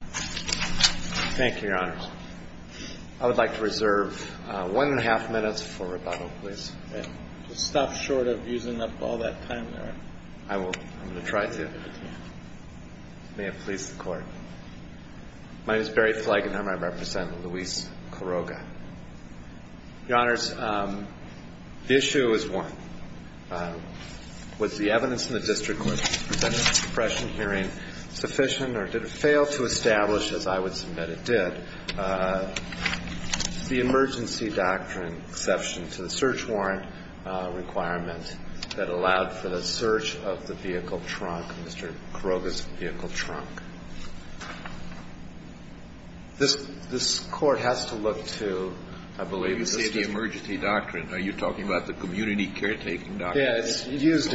Thank you, Your Honors. I would like to reserve one and a half minutes for rebuttal, please. Just stop short of using up all that time there. I will. I'm going to try to. May it please the Court. My name is Barry Fleigenheimer. I represent Luis Quiroga. Your Honors, the issue is one. Was the evidence in the district court's pressure hearing sufficient or did it fail to establish, as I would submit it did, the emergency doctrine exception to the search warrant requirement that allowed for the search of the vehicle trunk, Mr. Quiroga's vehicle trunk? This Court has to look to, I believe, the district court. When you say the emergency doctrine, are you talking about the community caretaking doctrine? Yes. It's used.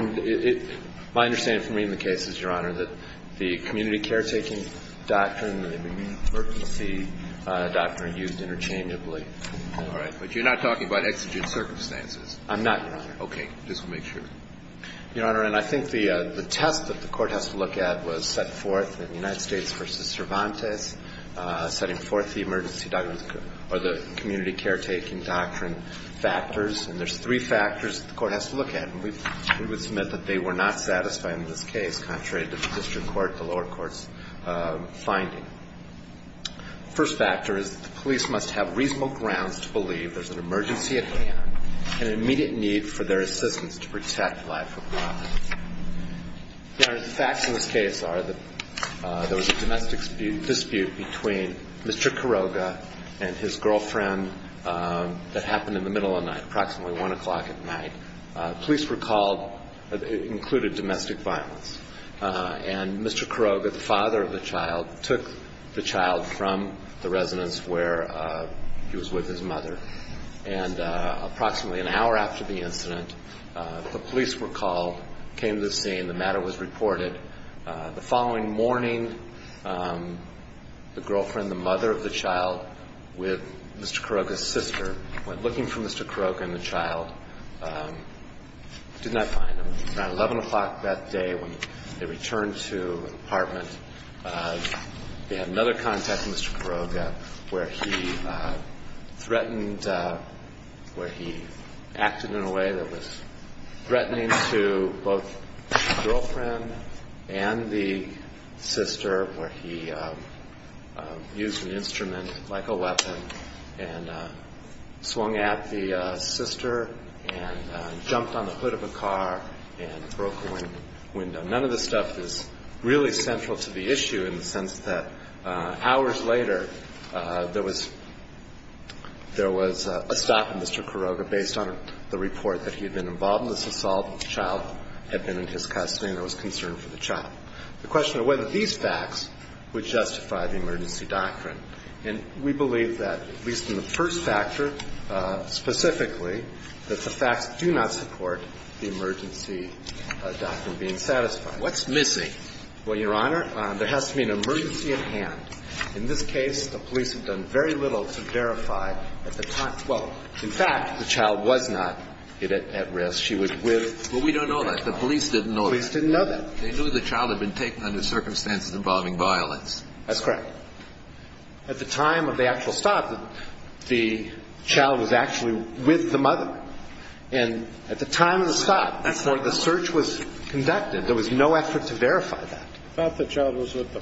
My understanding from reading the case is, Your Honor, that the community caretaking doctrine and the emergency doctrine are used interchangeably. All right. But you're not talking about exigent circumstances? I'm not, Your Honor. Okay. Just to make sure. Your Honor, and I think the test that the Court has to look at was set forth in the United States v. Cervantes, setting forth the emergency doctrine or the community caretaking doctrine factors. And there's three factors that the Court has to look at. And we would submit that they were not satisfying in this case, contrary to the district court, the lower court's finding. The first factor is that the police must have reasonable grounds to believe there's an emergency at hand and an immediate need for their assistance to protect life and property. Your Honor, the facts in this case are that there was a domestic dispute between Mr. Quiroga and his girlfriend that happened in the middle of the night, approximately 1 o'clock at night. Police were called. It included domestic violence. And Mr. Quiroga, the father of the child, took the child from the residence where he was with his mother. And approximately an hour after the incident, the police were called, came to the scene. The matter was reported. The following morning, the girlfriend, the mother of the child, with Mr. Quiroga's sister, went looking for Mr. Quiroga and the child. Did not find him. Around 11 o'clock that day when they returned to the apartment, they had another contact with Mr. Quiroga where he threatened where he acted in a way that was threatening to both the girlfriend and the sister where he used the instrument like a weapon and swung at the sister and jumped on the hood of a car and broke a window. None of this stuff is really central to the issue in the sense that hours later, there was a stop in Mr. Quiroga based on the report that he had been involved in this assault and the child had been in his custody and there was concern for the child. The question of whether these facts would justify the emergency doctrine. And we believe that, at least in the first factor, specifically, that the facts do not support the emergency doctrine being satisfied. What's missing? Well, Your Honor, there has to be an emergency at hand. In this case, the police have done very little to verify that the child – well, in fact, the child was not at risk. She was with the child. Well, we don't know that. The police didn't know that. The police didn't know that. They knew the child had been taken under circumstances involving violence. That's correct. At the time of the actual stop, the child was actually with the mother. And at the time of the stop, before the search was conducted, there was no effort to verify that. I thought the child was with the…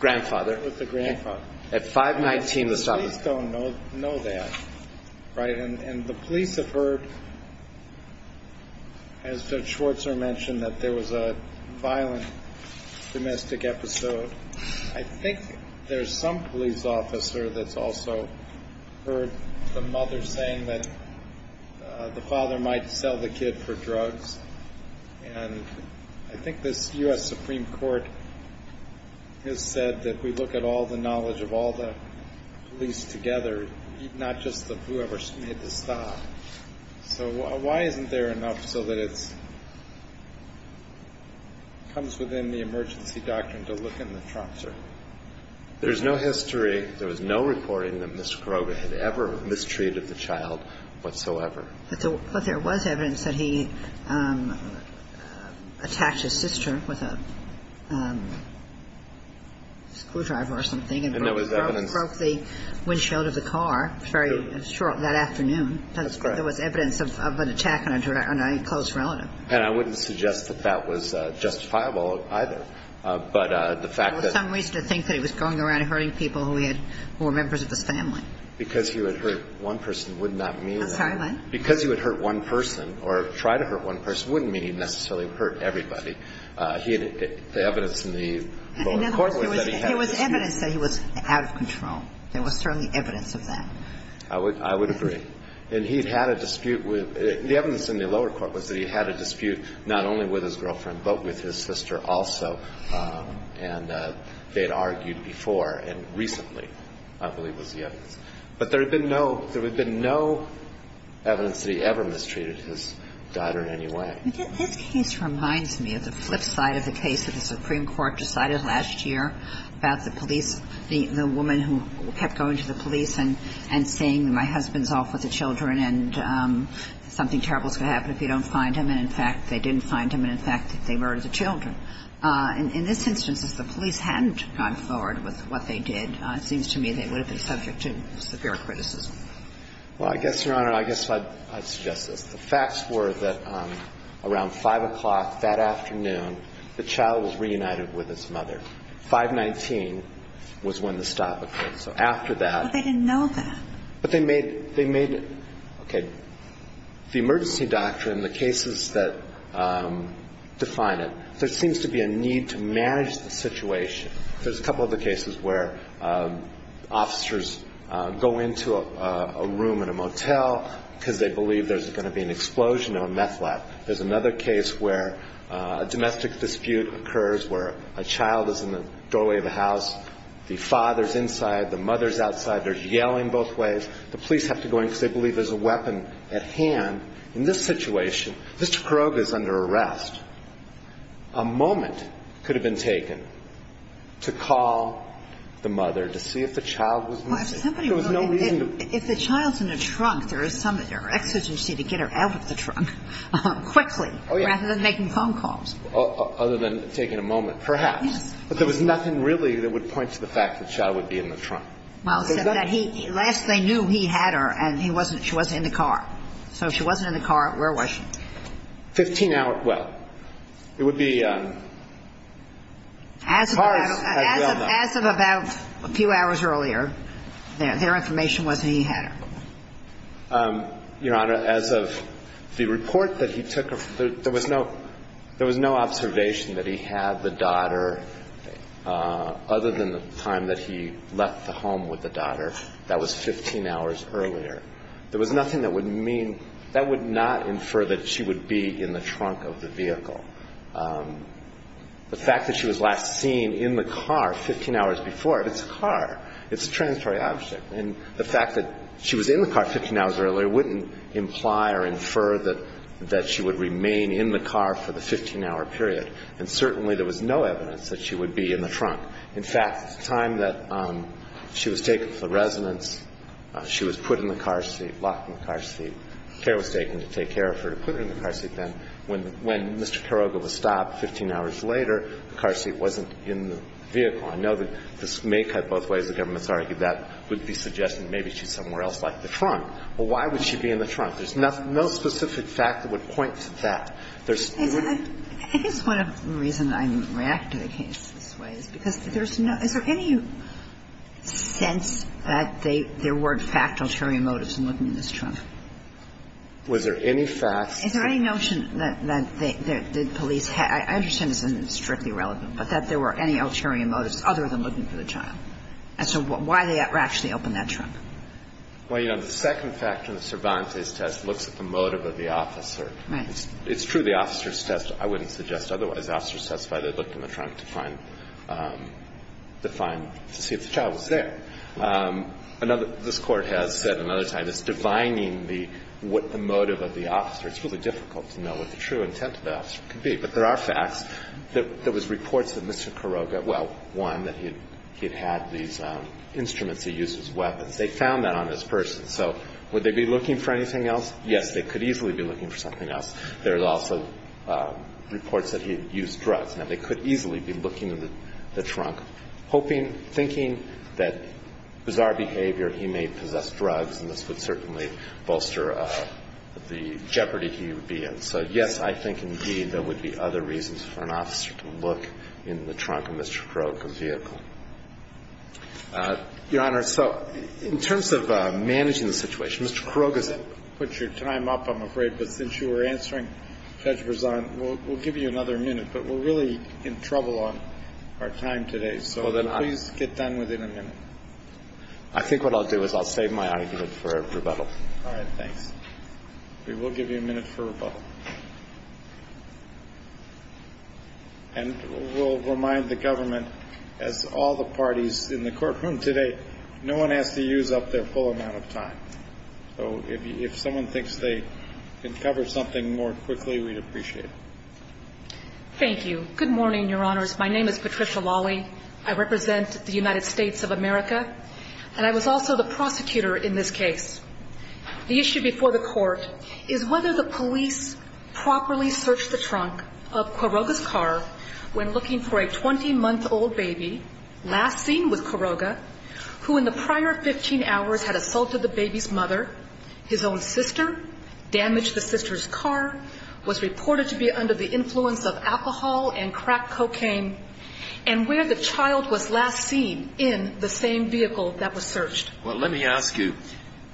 Grandfather. With the grandfather. At 519, the stop. We just don't know that. Right? And the police have heard, as Judge Schwartzer mentioned, that there was a violent domestic episode. I think there's some police officer that's also heard the mother saying that the father might sell the kid for drugs. And I think this U.S. Supreme Court has said that we look at all the knowledge of all the police together, not just whoever made the stop. So why isn't there enough so that it comes within the emergency doctrine to look in the trough, sir? There's no history, there was no reporting that Ms. Groga had ever mistreated the child whatsoever. But there was evidence that he attacked his sister with a screwdriver or something. And there was evidence… That's correct. There was evidence of an attack on a close relative. And I wouldn't suggest that that was justifiable either. But the fact that… There was some reason to think that he was going around hurting people who were members of his family. Because he would hurt one person would not mean… I'm sorry, what? Because he would hurt one person or try to hurt one person wouldn't mean he necessarily hurt everybody. The evidence in the… In other words, there was evidence that he was out of control. There was certainly evidence of that. I would agree. And he'd had a dispute with – the evidence in the lower court was that he had a dispute not only with his girlfriend, but with his sister also. And they'd argued before and recently, I believe, was the evidence. But there had been no – there had been no evidence that he ever mistreated his daughter in any way. This case reminds me of the flip side of the case that the Supreme Court decided last year about the police – the woman who kept going to the police and saying, my husband's off with the children, and something terrible is going to happen if you don't find him. And, in fact, they didn't find him. And, in fact, they murdered the children. In this instance, if the police hadn't gone forward with what they did, it seems to me they would have been subject to severe criticism. Well, I guess, Your Honor, I guess I'd suggest this. The facts were that around 5 o'clock that afternoon, the child was reunited with his mother. 5-19 was when the stop occurred. So after that – But they didn't know that. But they made – they made – okay. The emergency doctrine, the cases that define it, there seems to be a need to manage the situation. There's a couple of the cases where officers go into a room in a motel because they believe there's going to be an explosion of a meth lab. There's another case where a domestic dispute occurs where a child is in the doorway of the house. The father's inside. The mother's outside. They're yelling both ways. The police have to go in because they believe there's a weapon at hand. In this situation, Mr. Kuroga is under arrest. A moment could have been taken to call the mother to see if the child was missing. But there was nothing really that would point to the fact that the child would be in the trunk. Well, except that he – last they knew he had her and he wasn't – she wasn't in the car. So if she wasn't in the car, where was she? Fifteen hours – well, it would be – As of about a few hours earlier, their information was that he had her. Your Honor, as of the report that he took, there was no – there was no observation that he had the daughter other than the time that he left the home with the daughter. That was 15 hours earlier. There was nothing that would mean – that would not infer that she would be in the trunk of the vehicle. The fact that she was last seen in the car 15 hours before – it's a car. It's a transitory object. And the fact that she was in the car 15 hours earlier wouldn't imply or infer that she would remain in the car for the 15-hour period. And certainly there was no evidence that she would be in the trunk. In fact, at the time that she was taken to the residence, she was put in the car seat, locked in the car seat. Care was taken to take care of her to put her in the car seat then. When Mr. Kuroga was stopped 15 hours later, the car seat wasn't in the vehicle. I know that this may cut both ways. The government's argued that would be suggesting maybe she's somewhere else like the trunk. Well, why would she be in the trunk? There's no specific fact that would point to that. There's – I think it's one of the reasons I react to the case this way is because there's no – is there any sense that there weren't factual ulterior motives in looking at this trunk? Was there any facts? Is there any notion that the police – I understand this isn't strictly relevant, but that there were any ulterior motives other than looking for the child? And so why they actually opened that trunk? Well, you know, the second factor in the Cervantes test looks at the motive of the officer. Right. It's true the officer's test – I wouldn't suggest otherwise. Officers testify they looked in the trunk to find – to find – to see if the child was there. Another – this Court has said another time it's divining the – what the motive of the officer. It's really difficult to know what the true intent of the officer could be. But there are facts. There was reports that Mr. Carroga – well, one, that he had had these instruments he used as weapons. They found that on this person. So would they be looking for anything else? Yes, they could easily be looking for something else. There's also reports that he had used drugs. Now, they could easily be looking in the trunk, hoping, thinking that bizarre behavior. He may possess drugs, and this would certainly bolster the jeopardy he would be in. So, yes, I think, indeed, there would be other reasons for an officer to look in the trunk of Mr. Carroga's vehicle. Your Honor, so in terms of managing the situation, Mr. Carroga's – Put your time up, I'm afraid. But since you were answering, Judge Berzon, we'll give you another minute. But we're really in trouble on our time today. So please get done within a minute. I think what I'll do is I'll save my argument for rebuttal. All right. Thanks. We will give you a minute for rebuttal. And we'll remind the government, as all the parties in the courtroom today, no one has to use up their full amount of time. So if someone thinks they can cover something more quickly, we'd appreciate it. Thank you. Good morning, Your Honors. My name is Patricia Lawley. I represent the United States of America, and I was also the prosecutor in this case. The issue before the court is whether the police properly searched the trunk of Carroga's car when looking for a 20-month-old baby, last seen with Carroga, who in the prior 15 hours had assaulted the baby's mother, his own sister, damaged the sister's car, was reported to be under the influence of alcohol and crack cocaine, and where the child was last seen in the same vehicle that was searched. Well, let me ask you,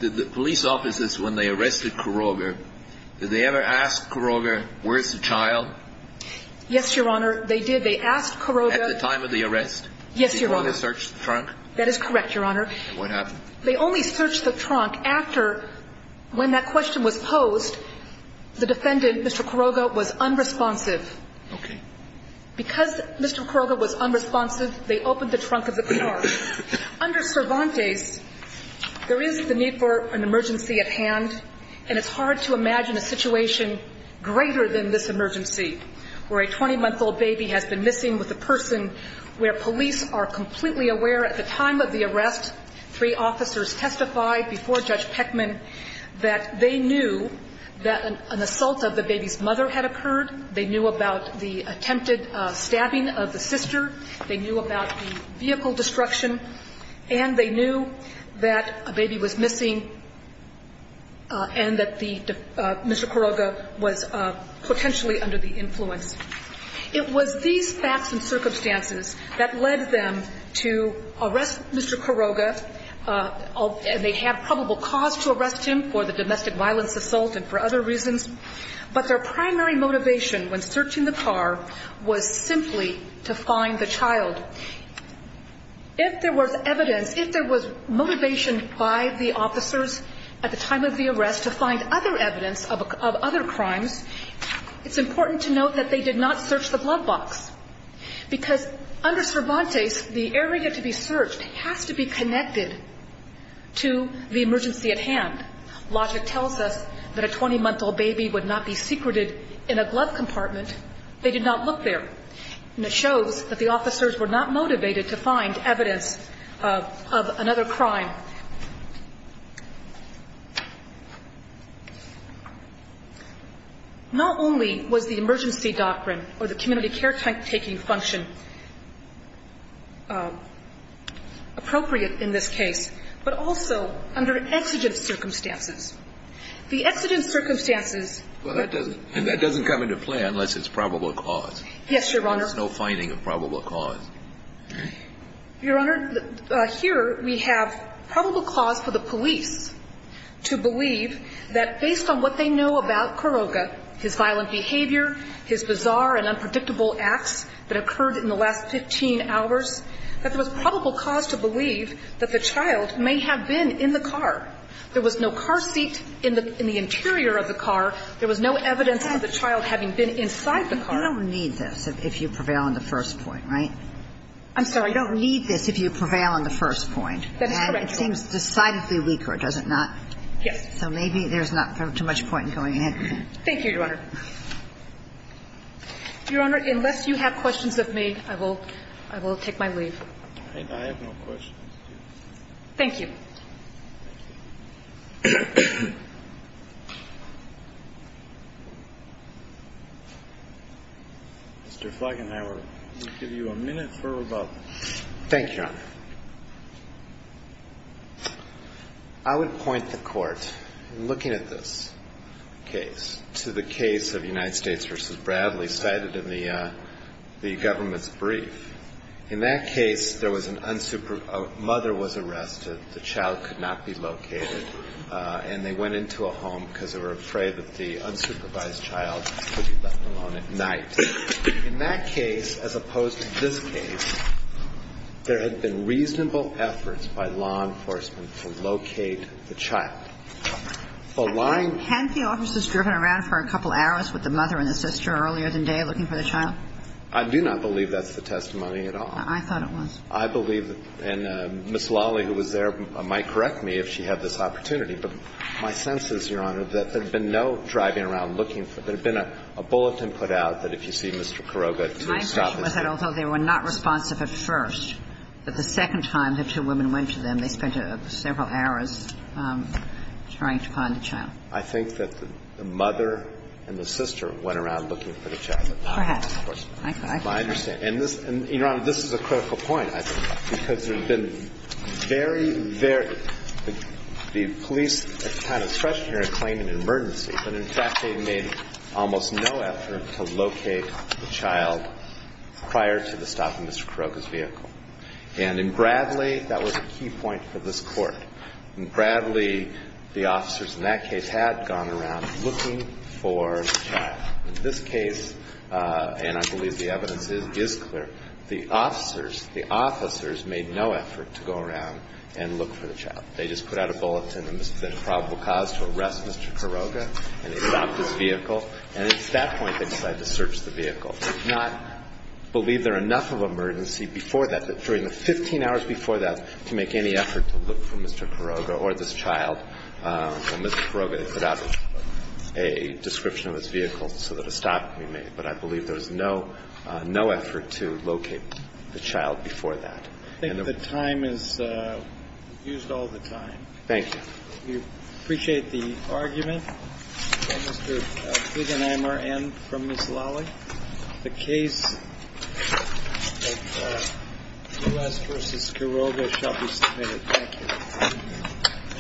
did the police officers, when they arrested Carroga, did they ever ask Carroga, where's the child? Yes, Your Honor, they did. They asked Carroga. At the time of the arrest? Yes, Your Honor. Before they searched the trunk? That is correct, Your Honor. And what happened? They only searched the trunk after, when that question was posed, the defendant, Mr. Carroga, was unresponsive. Okay. Because Mr. Carroga was unresponsive, they opened the trunk of the car. Under Cervantes, there is the need for an emergency at hand, and it's hard to imagine a situation greater than this emergency, where a 20-month-old baby has been missing with a person where police are completely aware at the time of the arrest, three officers testified before Judge Peckman, that they knew that an assault of the baby's mother had occurred. They knew about the attempted stabbing of the sister. They knew about the vehicle destruction. And they knew that a baby was missing and that Mr. Carroga was potentially under the influence. It was these facts and circumstances that led them to arrest Mr. Carroga, and they had probable cause to arrest him for the domestic violence assault and for other reasons. But their primary motivation when searching the car was simply to find the child. If there was evidence, if there was motivation by the officers at the time of the arrest to find other evidence of other crimes, it's important to note that they did not search the blood box, because under Cervantes, the area to be searched has to be connected to the emergency at hand. Logic tells us that a 20-month-old baby would not be secreted in a glove compartment. They did not look there. And it shows that the officers were not motivated to find evidence of another crime. Not only was the emergency doctrine or the community caretaking function appropriate in this case, but also under exigent circumstances. The exigent circumstances. And that doesn't come into play unless it's probable cause. Yes, Your Honor. There's no finding of probable cause. Your Honor, here we have probable cause for the police to believe that based on what they know about Carroga, his violent behavior, his bizarre and unpredictable acts that occurred in the last 15 hours, that there was probable cause to believe that the child may have been in the car. There was no car seat in the interior of the car. There was no evidence of the child having been inside the car. You don't need this if you prevail on the first point, right? I'm sorry? You don't need this if you prevail on the first point. That is correct. And it seems decidedly weaker, does it not? Yes. So maybe there's not too much point in going ahead. Thank you, Your Honor. Your Honor, unless you have questions of me, I will take my leave. I have no questions. Thank you. Mr. Fleigenhauer, we'll give you a minute for rebuttal. Thank you, Your Honor. I would point the Court, looking at this case, to the case of United States v. Bradley cited in the government's brief. In that case, there was an unsupervised child. A mother was arrested. The child could not be located. And they went into a home because they were afraid that the unsupervised child could be left alone at night. In that case, as opposed to this case, there had been reasonable efforts by law enforcement to locate the child. The line of the case was that the child had been left alone at night. Hadn't the officers driven around for a couple hours with the mother and the sister earlier in the day looking for the child? I do not believe that's the testimony at all. I thought it was. I believe, and Ms. Lawley, who was there, might correct me if she had this opportunity, but my sense is, Your Honor, that there had been no driving around looking for the child. There had been a bulletin put out that if you see Mr. Kuroga to stop this case. My question was that although they were not responsive at first, that the second time the two women went to them, they spent several hours trying to find the child. I think that the mother and the sister went around looking for the child. Perhaps. I understand. And, Your Honor, this is a critical point, I think, because there had been very, the police kind of stretched here and claimed an emergency. But, in fact, they made almost no effort to locate the child prior to the stop of Mr. Kuroga's vehicle. And in Bradley, that was a key point for this Court. In Bradley, the officers in that case had gone around looking for the child. In this case, and I believe the evidence is clear, the officers, the officers made no effort to go around and look for the child. They just put out a bulletin that there had been a probable cause to arrest Mr. Kuroga, and they stopped his vehicle. And it's at that point they decided to search the vehicle. Not believe there were enough of an emergency before that, but during the 15 hours before that, to make any effort to look for Mr. Kuroga or this child. For Mr. Kuroga, they put out a description of his vehicle so that a stop could be made. But I believe there was no effort to locate the child before that. I think the time is used all the time. Thank you. We appreciate the argument. Mr. Kagan, I am from Ms. Lawley. The case of U.S. v. Kuroga shall be submitted. Thank you.